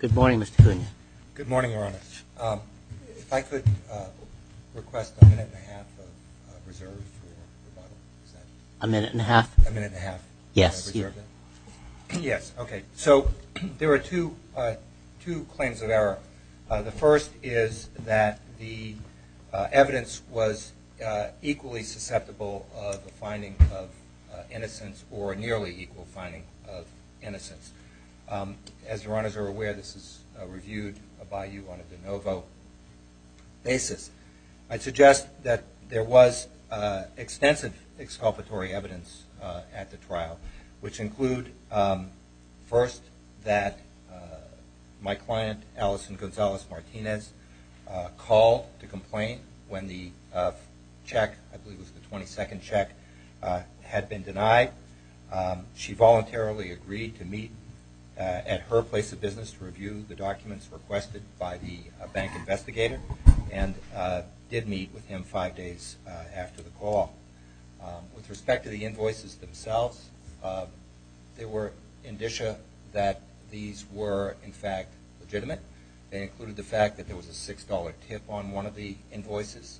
Good morning, Mr. Cunha. Good morning, Your Honor. If I could request a minute and a half of reserve for rebuttal? A minute and a half? A minute and a half? Yes. Yes, okay. So there are two claims of error. The first is that the evidence was equally susceptible of the finding of innocence or a nearly equal finding of innocence. As Your Honors are aware, this is reviewed by you on a de novo basis. I'd suggest that there was extensive exculpatory evidence at the trial, which include, first, that my client, Allison Gonzalez-Martinez, called to complain when the check, I believe it was the 22nd check, had been denied. She the documents requested by the bank investigator and did meet with him five days after the call. With respect to the invoices themselves, there were indicia that these were, in fact, legitimate. They included the fact that there was a $6 tip on one of the invoices.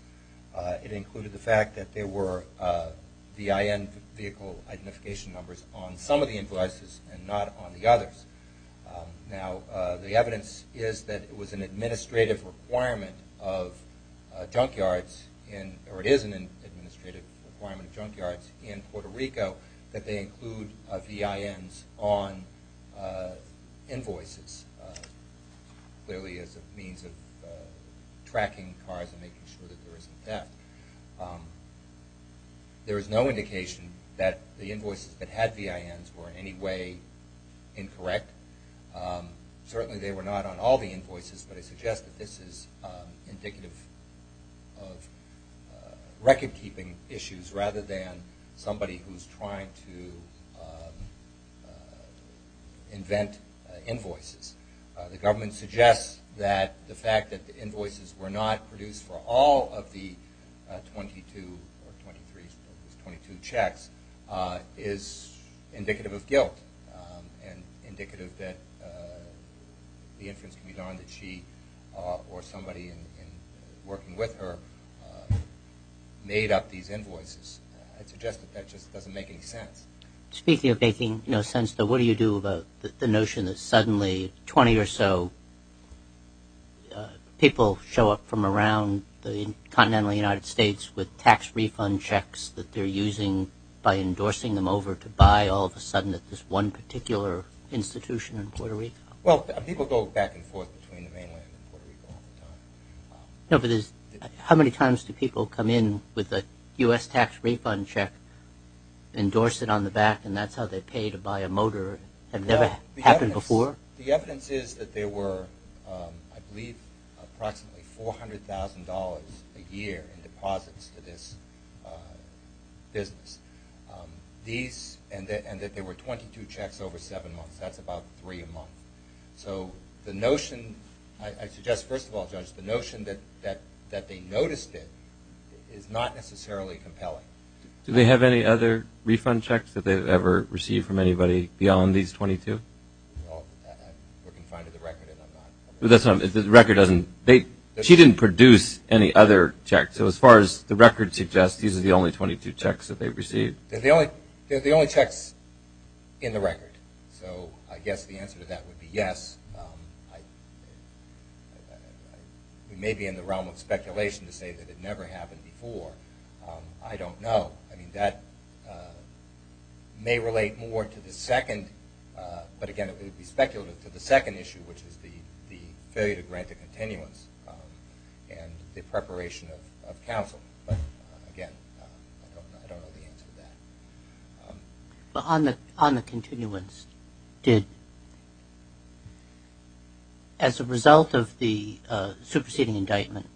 It included the fact that there were VIN vehicle identification numbers on some of the invoices and not on the others. Now, the evidence is that it was an administrative requirement of junk yards in Puerto Rico that they include VINs on invoices, clearly as a means of tracking cars and making sure that there isn't theft. There is no indication that the invoices that were produced were incorrect. Certainly they were not on all the invoices, but I suggest that this is indicative of record-keeping issues rather than somebody who is trying to invent invoices. The government suggests that the fact that the invoices were not produced for all of the 22 or 23, 22 checks is indicative of guilt and indicative that the inference can be done that she or somebody working with her made up these invoices. I suggest that that just doesn't make any sense. Speaking of making no sense, though, what do you do about the notion that suddenly 20 or so people show up from around the continental United States with tax refund checks that they're using by endorsing them over to buy all of a sudden at this one particular institution in Puerto Rico? Well, people go back and forth between the mainland and Puerto Rico all the time. No, but how many times do people come in with a U.S. tax refund check, endorse it on the back, and that's how they pay to buy a motor? Has that ever happened before? The evidence is that there were, I believe, approximately $400,000 a year in deposits to this business, and that there were 22 checks over seven months. That's about three a month. So the notion, I suggest first of all, Judge, the notion that they noticed it is not necessarily compelling. Do they have any other refund checks that they've ever received from anybody beyond these 22? Well, we're confined to the record, and I'm not... The record doesn't... She didn't produce any other checks. So as far as the record suggests, these are the only 22 checks that they've received. They're the only checks in the record. So I guess the answer to that would be yes. We may be in the realm of speculation to say that it never happened before. I don't know. I mean, that may relate more to the second, but again, it would be speculative to the second issue, which is the failure to grant the continuance and the preparation of counsel. But again, I don't know the answer to that. On the continuance, as a result of the superseding indictment,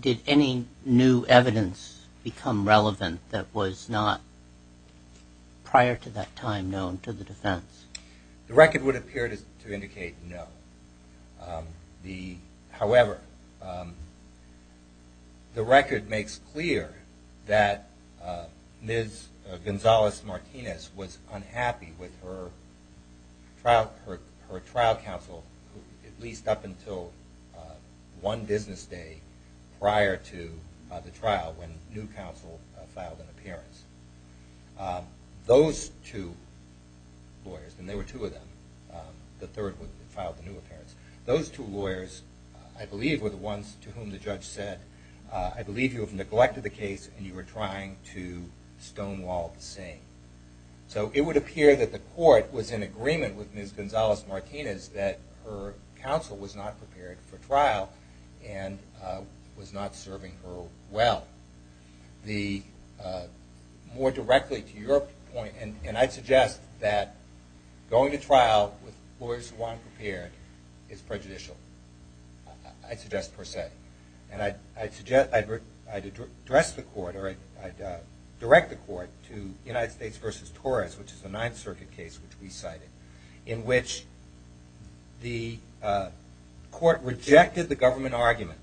did any new evidence become relevant that was not prior to that time known to the defense? The record would appear to indicate no. However, the record makes clear that Ms. Gonzalez-Martinez was unhappy with her trial counsel, at least up until one business day prior to the trial, when new lawyers, and there were two of them, the third one filed the new appearance. Those two lawyers, I believe, were the ones to whom the judge said, I believe you have neglected the case and you are trying to stonewall the scene. So it would appear that the court was in agreement with Ms. Gonzalez-Martinez that her counsel was not prepared for trial and was not serving her well. More directly to your point, and I'd suggest that going to trial with lawyers who aren't prepared is prejudicial. I'd suggest per se. And I'd direct the court to United States v. Torres, which is a Ninth Circuit case which we cited, in which the court rejected the government argument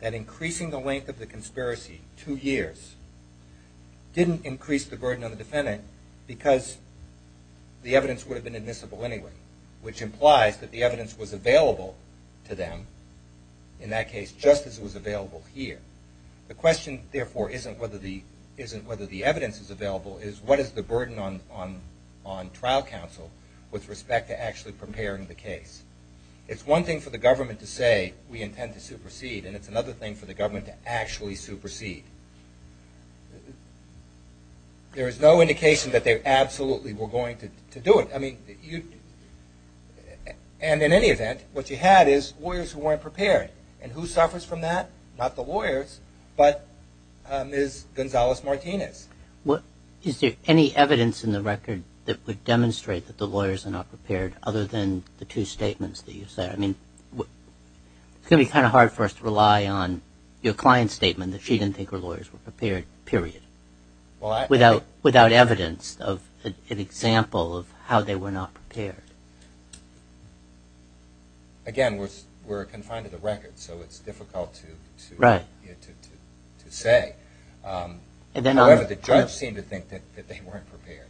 that increasing the length of the conspiracy two years didn't increase the burden on the defendant because the evidence would have been admissible anyway, which implies that the evidence was available to them, in that case, just as it was available here. The question, therefore, isn't whether the evidence is available, is what is the burden on trial counsel with respect to actually preparing the case. It's one thing for the government to say, we intend to supersede, and it's another thing for the government to actually supersede. There is no indication that they absolutely were going to do it. And in any event, what you had is lawyers who weren't prepared. And who suffers from that? Not the lawyers, but Ms. Gonzalez-Martinez. Is there any evidence in the record that would demonstrate that the lawyers are not prepared, other than the two statements that you said? I mean, it's going to be kind of hard for us to rely on your client's statement that she didn't think her lawyers were prepared, period. Without evidence of an example of how they were not prepared. Again, we're confined to the record, so it's difficult to say. However, the judge seemed to think that they weren't prepared.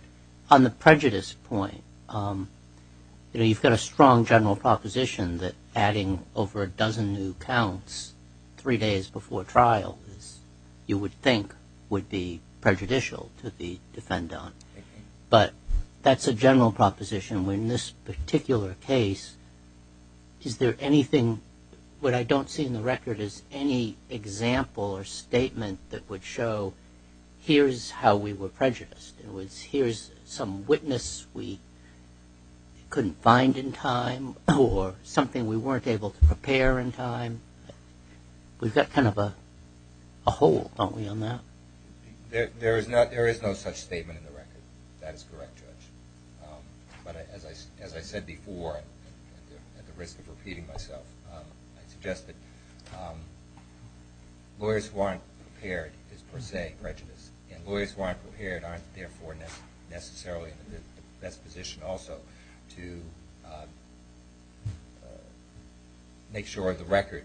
On the prejudice point, you've got a strong general proposition that adding over a dozen new counts three days before trial, you would think would be prejudicial to the defendant. But that's a general proposition. In this particular case, what I don't see in the record is any example or statement that would show here's how we were prejudiced. Here's some witness we couldn't find in time, or something we weren't able to prepare in time. We've got kind of a hole, don't we, on that? There is no such statement in the record. That is correct, Judge. But as I said before, at the risk of repeating myself, I suggest that lawyers who aren't prepared is per se prejudiced. And lawyers who aren't prepared aren't therefore necessarily in the best position also to make sure the record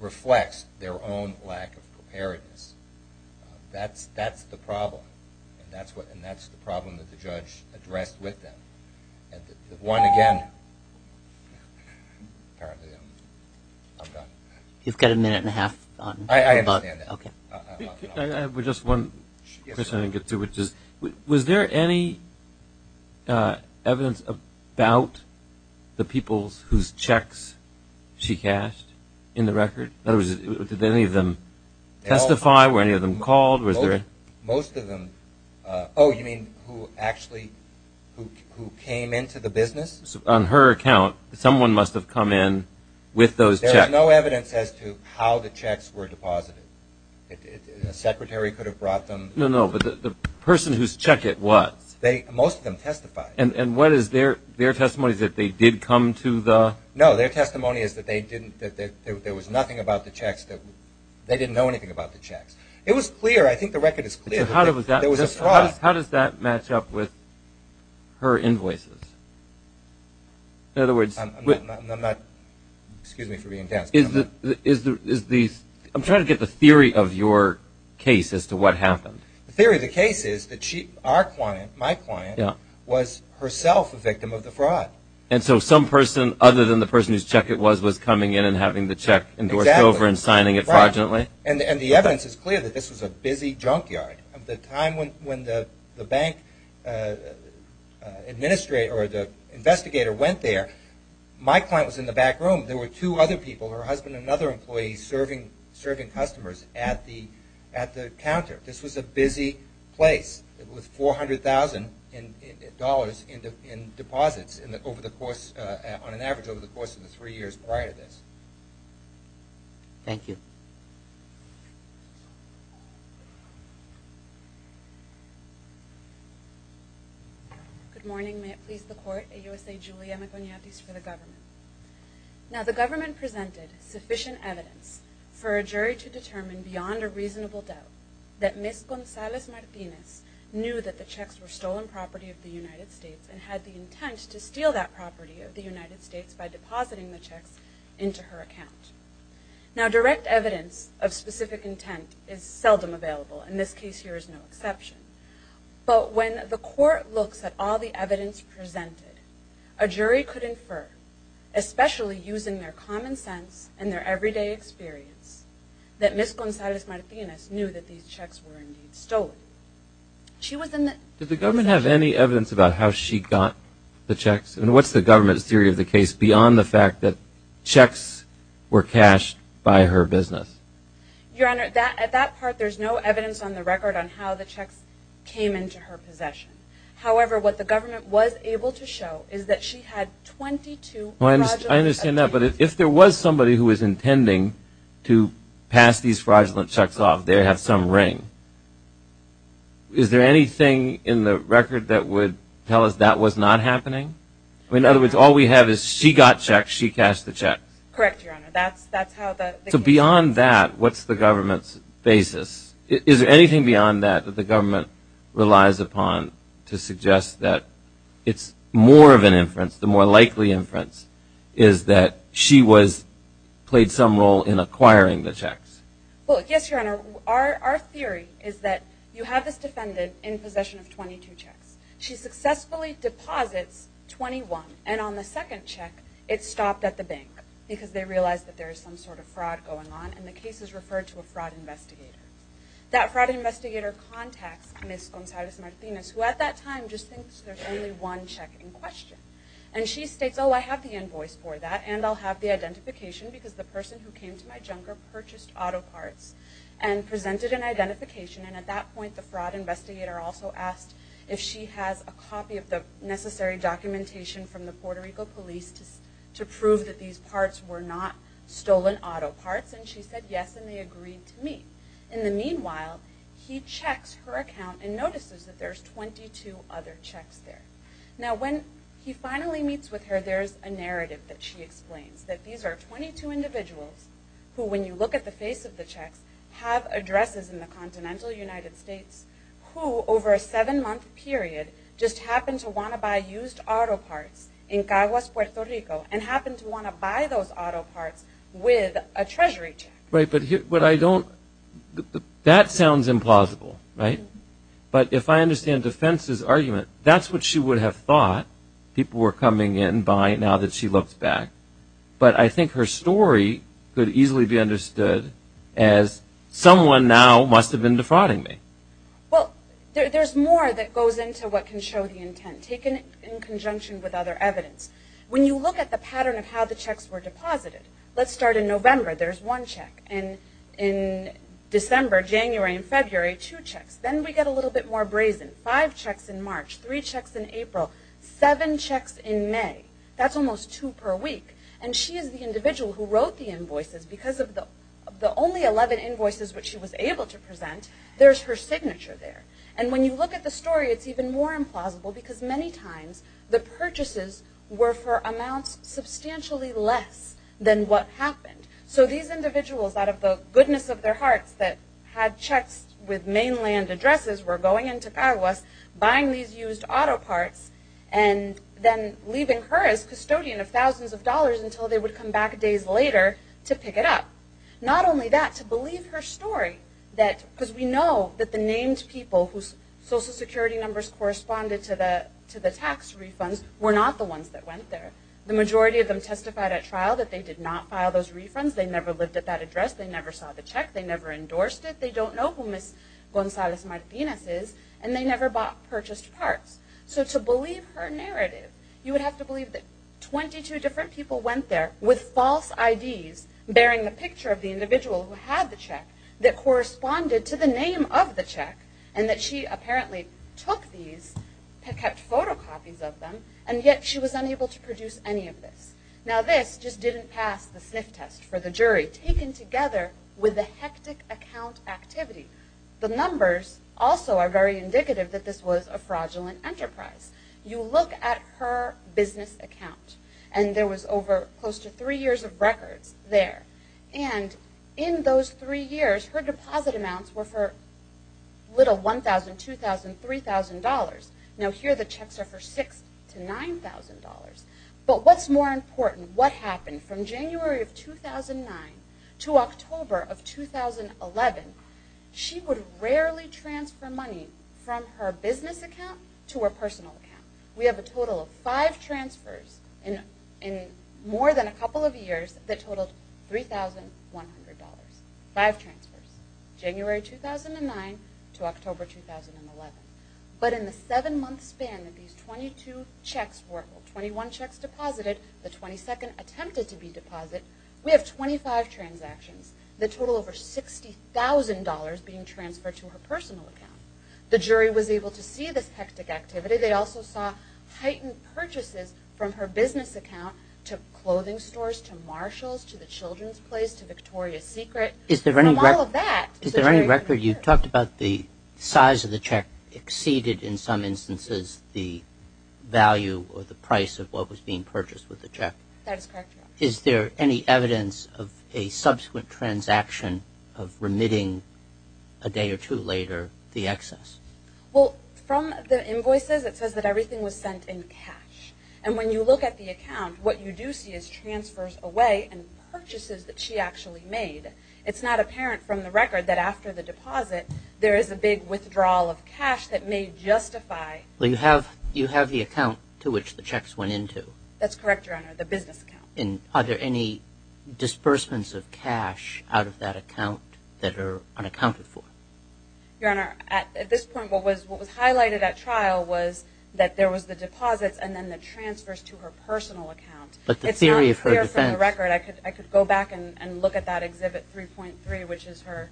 reflects their own lack of preparedness. That's the problem, and that's the problem that the judge addressed with them. One again. You've got a minute and a half. I understand that. I have just one question I didn't get to. Was there any evidence about the people whose checks she cashed in the record? Did any of them testify? Were any of them called? Most of them. Oh, you mean who actually came into the business? On her account, someone must have come in with those checks. There's no evidence as to how the checks were deposited. A secretary could have brought them. No, no, but the person whose check it was. Most of them testified. And what is their testimony, is that they did come to the? No, their testimony is that there was nothing about the checks. They didn't know anything about the checks. It was clear. I think the record is clear. How does that match up with her invoices? In other words. I'm not, excuse me for being daft. I'm trying to get the theory of your case as to what happened. The theory of the case is that our client, my client, was herself a victim of the fraud. And so some person, other than the person whose check it was, was coming in and having the check endorsed over and signing it fraudulently? And the evidence is clear that this was a busy junkyard. At the time when the bank administrator or the investigator went there, my client was in the back room. There were two other people, her husband and another employee, serving customers at the counter. This was a busy place with $400,000 in deposits over the course, on an average over the course of the three years prior to this. Thank you. Good morning. May it please the Court. AUSA Julia Maconiatis for the government. Now the government presented sufficient evidence for a jury to determine beyond a reasonable doubt that Ms. Gonzalez Martinez knew that the checks were stolen property of the United States and had the intent to steal that property of the United States by depositing the checks into her account. Now direct evidence of specific intent is seldom available. In this case here is no exception. But when the Court looks at all the evidence presented, a jury could infer, especially using their common sense and their everyday experience, that Ms. Gonzalez Martinez knew that these checks were indeed stolen. Did the government have any evidence about how she got the checks? And what's the government's theory of the case beyond the fact that checks were cashed by her business? Your Honor, at that part there's no evidence on the record on how the checks came into her possession. However, what the government was able to show is that she had 22 fraudulent checks. I understand that. But if there was somebody who was intending to pass these fraudulent checks off, they have some ring. Is there anything in the record that would tell us that was not happening? In other words, all we have is she got checks, she cashed the checks. Correct, Your Honor. So beyond that, what's the government's basis? Is there anything beyond that that the government relies upon to suggest that it's more of an inference, the more likely inference, is that she played some role in acquiring the checks? Well, yes, Your Honor. Our theory is that you have this defendant in possession of 22 checks. She successfully deposits 21. And on the second check, it stopped at the bank because they realized that there is some sort of fraud going on, and the case is referred to a fraud investigator. That fraud investigator contacts Ms. Gonzalez Martinez, who at that time just thinks there's only one check in question. And she states, oh, I have the invoice for that, and I'll have the identification because the person who came to my junker purchased auto parts and presented an identification. And at that point, the fraud investigator also asked if she has a copy of the necessary documentation from the Puerto Rico police to prove that these parts were not stolen auto parts. And she said yes, and they agreed to meet. In the meanwhile, he checks her account and notices that there's 22 other checks there. Now, when he finally meets with her, there's a narrative that she explains, that these are 22 individuals who, when you look at the face of the checks, have addresses in the continental United States, who over a seven-month period just happened to want to buy used auto parts in Caguas, Puerto Rico, and happened to want to buy those auto parts with a treasury check. Right, but what I don't – that sounds implausible, right? But if I understand defense's argument, that's what she would have thought people were coming in to buy now that she looked back. But I think her story could easily be understood as someone now must have been defrauding me. Well, there's more that goes into what can show the intent, taken in conjunction with other evidence. When you look at the pattern of how the checks were deposited, let's start in November. There's one check. And in December, January, and February, two checks. Then we get a little bit more brazen. Five checks in March. Three checks in April. Seven checks in May. That's almost two per week. And she is the individual who wrote the invoices. Because of the only 11 invoices which she was able to present, there's her signature there. And when you look at the story, it's even more implausible, because many times the purchases were for amounts substantially less than what happened. So these individuals, out of the goodness of their hearts, that had checks with mainland addresses were going into Paraguay, buying these used auto parts, and then leaving her as custodian of thousands of dollars until they would come back days later to pick it up. Not only that, to believe her story, because we know that the named people whose Social Security numbers corresponded to the tax refunds were not the ones that went there. The majority of them testified at trial that they did not file those refunds. They never lived at that address. They never saw the check. They never endorsed it. They don't know who Ms. Gonzalez Martinez is. And they never purchased parts. So to believe her narrative, you would have to believe that 22 different people went there with false IDs bearing the picture of the individual who had the check that corresponded to the name of the check, and that she apparently took these, kept photocopies of them, and yet she was unable to produce any of this. Now this just didn't pass the sniff test for the jury, taken together with the hectic account activity. The numbers also are very indicative that this was a fraudulent enterprise. You look at her business account, and there was over close to three years of records there. And in those three years, her deposit amounts were for little $1,000, $2,000, $3,000. Now here the checks are for $6,000 to $9,000. But what's more important, what happened from January of 2009 to October of 2011, she would rarely transfer money from her business account to her personal account. We have a total of five transfers in more than a couple of years that totaled $3,100. Five transfers, January 2009 to October 2011. But in the seven month span that these 22 checks were, 21 checks deposited, the 22nd attempted to be deposited, we have 25 transactions. The total over $60,000 being transferred to her personal account. The jury was able to see this hectic activity. They also saw heightened purchases from her business account to clothing stores, to Marshalls, to the Children's Place, to Victoria's Secret. Is there any record you talked about the size of the check exceeded in some instances the value or the price of what was being purchased with the check? That is correct, Your Honor. Is there any evidence of a subsequent transaction of remitting a day or two later the excess? Well, from the invoices it says that everything was sent in cash. And when you look at the account, what you do see is transfers away and purchases that she actually made. It's not apparent from the record that after the deposit, there is a big withdrawal of cash that may justify. You have the account to which the checks went into. That's correct, Your Honor, the business account. Are there any disbursements of cash out of that account that are unaccounted for? Your Honor, at this point what was highlighted at trial was that there was the deposits and then the transfers to her personal account. It's not clear from the record. I could go back and look at that Exhibit 3.3, which is her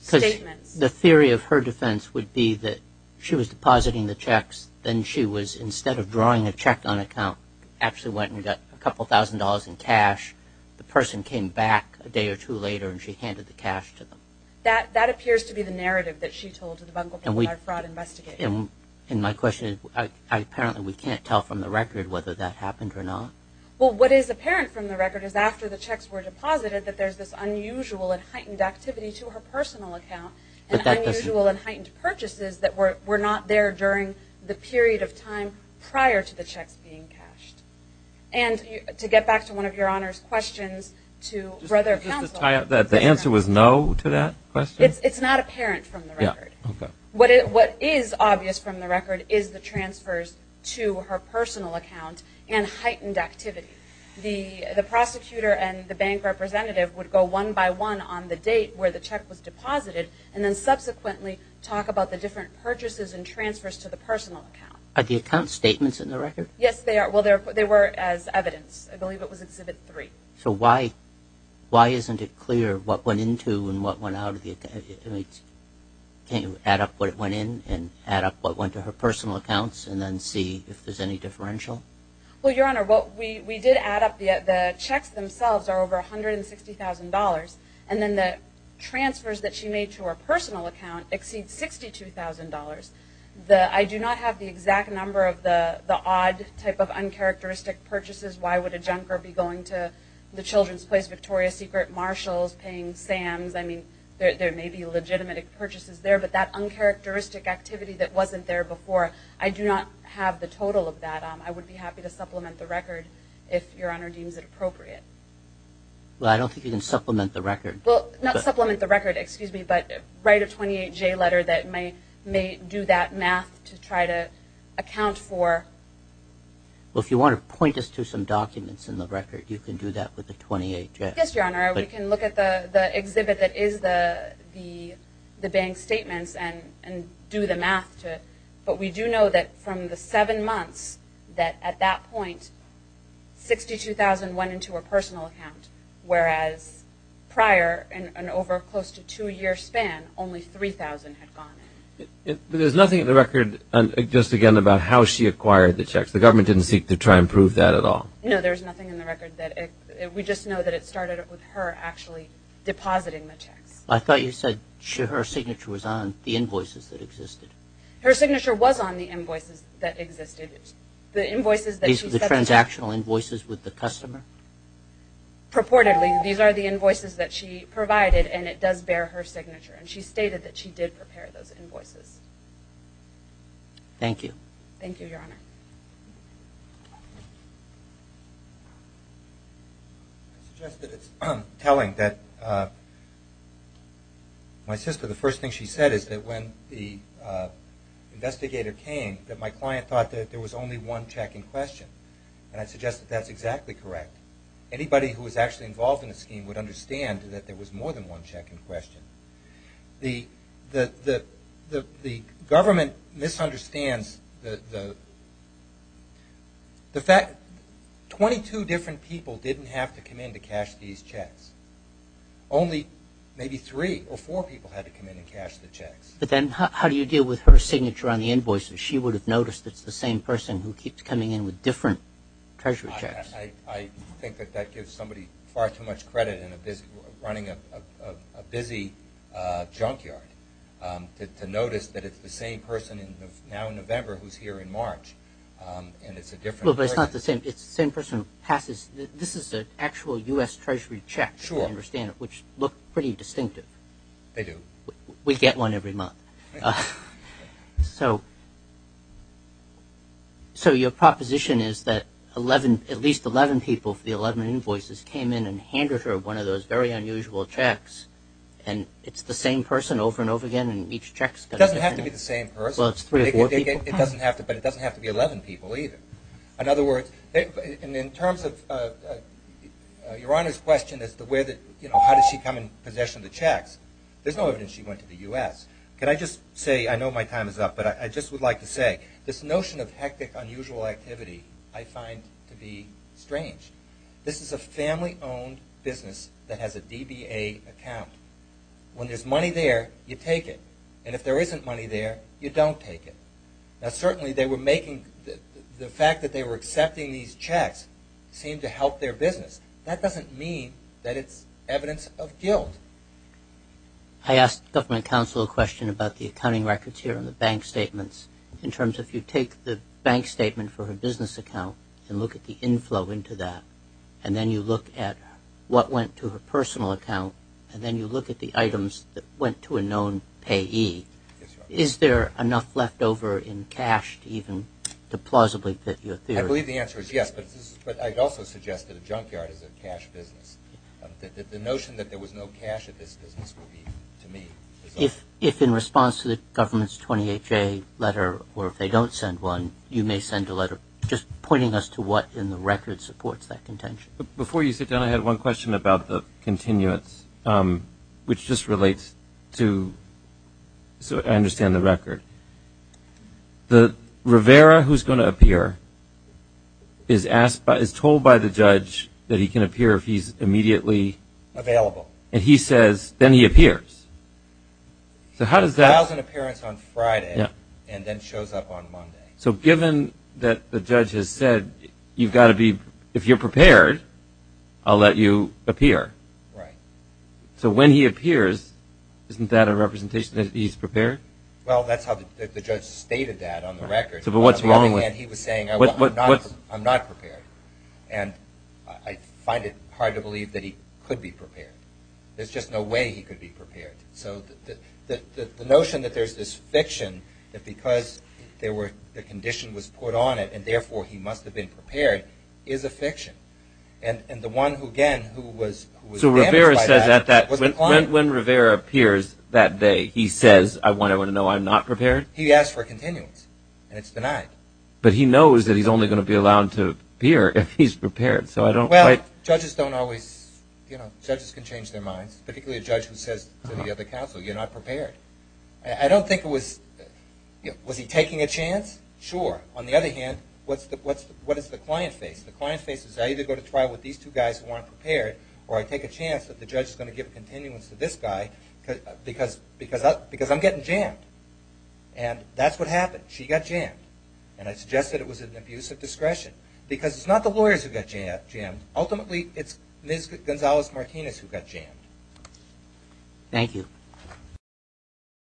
statements. The theory of her defense would be that she was depositing the checks, then she was, instead of drawing a check on account, actually went and got a couple thousand dollars in cash. The person came back a day or two later, and she handed the cash to them. That appears to be the narrative that she told to the Bunkleberg Fraud Investigation. My question is, apparently we can't tell from the record whether that happened or not. Well, what is apparent from the record is after the checks were deposited, that there's this unusual and heightened activity to her personal account and unusual and heightened purchases that were not there during the period of time prior to the checks being cashed. To get back to one of Your Honor's questions to Brother Counsel. Just to tie up that, the answer was no to that question? It's not apparent from the record. Okay. What is obvious from the record is the transfers to her personal account and heightened activity. The prosecutor and the bank representative would go one by one on the date where the check was deposited, and then subsequently talk about the different purchases and transfers to the personal account. Are the account statements in the record? Yes, they are. Well, they were as evidence. I believe it was Exhibit 3. So why isn't it clear what went into and what went out of the account? Can't you add up what went in and add up what went to her personal accounts and then see if there's any differential? Well, Your Honor, we did add up the checks themselves are over $160,000, and then the transfers that she made to her personal account exceed $62,000. I do not have the exact number of the odd type of uncharacteristic purchases. Why would a junker be going to the children's place, Victoria's Secret, Marshalls, paying Sam's? I mean, there may be legitimate purchases there, but that uncharacteristic activity that wasn't there before, I do not have the total of that. I would be happy to supplement the record if Your Honor deems it appropriate. Well, I don't think you can supplement the record. Well, not supplement the record, excuse me, but write a 28-J letter that may do that math to try to account for. Well, if you want to point us to some documents in the record, you can do that with the 28-J. Yes, Your Honor. We can look at the exhibit that is the bank statements and do the math to it. But we do know that from the seven months that at that point, $62,000 went into her personal account, whereas prior, in an over close to two-year span, only $3,000 had gone in. There's nothing in the record, just again, about how she acquired the checks. The government didn't seek to try and prove that at all. No, there's nothing in the record. We just know that it started with her actually depositing the checks. I thought you said her signature was on the invoices that existed. Her signature was on the invoices that existed. These were the transactional invoices with the customer? Purportedly, these are the invoices that she provided, and it does bear her signature. And she stated that she did prepare those invoices. Thank you, Your Honor. I suggest that it's telling that my sister, the first thing she said is that when the investigator came, that my client thought that there was only one check in question. And I suggest that that's exactly correct. Anybody who was actually involved in the scheme would understand that there was more than one check in question. The government misunderstands the fact that 22 different people didn't have to come in to cash these checks. Only maybe three or four people had to come in and cash the checks. But then how do you deal with her signature on the invoices? She would have noticed that it's the same person who keeps coming in with different Treasury checks. I think that that gives somebody far too much credit in running a busy junkyard to notice that it's the same person now in November who's here in March, and it's a different person. Well, but it's not the same. It's the same person who passes. This is an actual U.S. Treasury check, if I understand it, which looked pretty distinctive. They do. We get one every month. So your proposition is that at least 11 people for the 11 invoices came in and handed her one of those very unusual checks, and it's the same person over and over again, and each check is different. It doesn't have to be the same person. Well, it's three or four people. But it doesn't have to be 11 people either. In other words, in terms of Your Honor's question as to how did she come and possession the checks, there's no evidence she went to the U.S. Can I just say, I know my time is up, but I just would like to say this notion of hectic, unusual activity I find to be strange. This is a family-owned business that has a DBA account. When there's money there, you take it, and if there isn't money there, you don't take it. Now, certainly they were making the fact that they were accepting these checks seemed to help their business. That doesn't mean that it's evidence of guilt. I asked the government counsel a question about the accounting records here and the bank statements in terms of if you take the bank statement for her business account and look at the inflow into that, and then you look at what went to her personal account, and then you look at the items that went to a known payee, is there enough left over in cash even to plausibly fit your theory? I believe the answer is yes, but I'd also suggest that a junkyard is a cash business. The notion that there was no cash at this business would be, to me, dishonest. If in response to the government's 28-J letter, or if they don't send one, you may send a letter just pointing us to what in the record supports that contention. Before you sit down, I had one question about the continuance, which just relates to, so I understand the record. The Rivera who's going to appear is told by the judge that he can appear if he's immediately. Available. And he says, then he appears. So how does that. Files an appearance on Friday and then shows up on Monday. So given that the judge has said you've got to be, if you're prepared, I'll let you appear. Right. So when he appears, isn't that a representation that he's prepared? Well, that's how the judge stated that on the record. But what's wrong with. He was saying, I'm not prepared. And I find it hard to believe that he could be prepared. There's just no way he could be prepared. So the notion that there's this fiction that because the condition was put on it and therefore he must have been prepared is a fiction. And the one who, again, who was. So Rivera says that when Rivera appears that day, he says, I want to know I'm not prepared. He asks for a continuance, and it's denied. But he knows that he's only going to be allowed to appear if he's prepared. So I don't quite. Well, judges don't always, you know, judges can change their minds, particularly a judge who says to the other counsel, you're not prepared. I don't think it was, was he taking a chance? Sure. On the other hand, what does the client face? The client's face is I either go to trial with these two guys who aren't prepared or I take a chance that the judge is going to give a continuance to this guy because I'm getting jammed. And that's what happened. She got jammed. And I suggest that it was an abuse of discretion because it's not the lawyers who got jammed. Ultimately, it's Ms. Gonzalez-Martinez who got jammed. Thank you.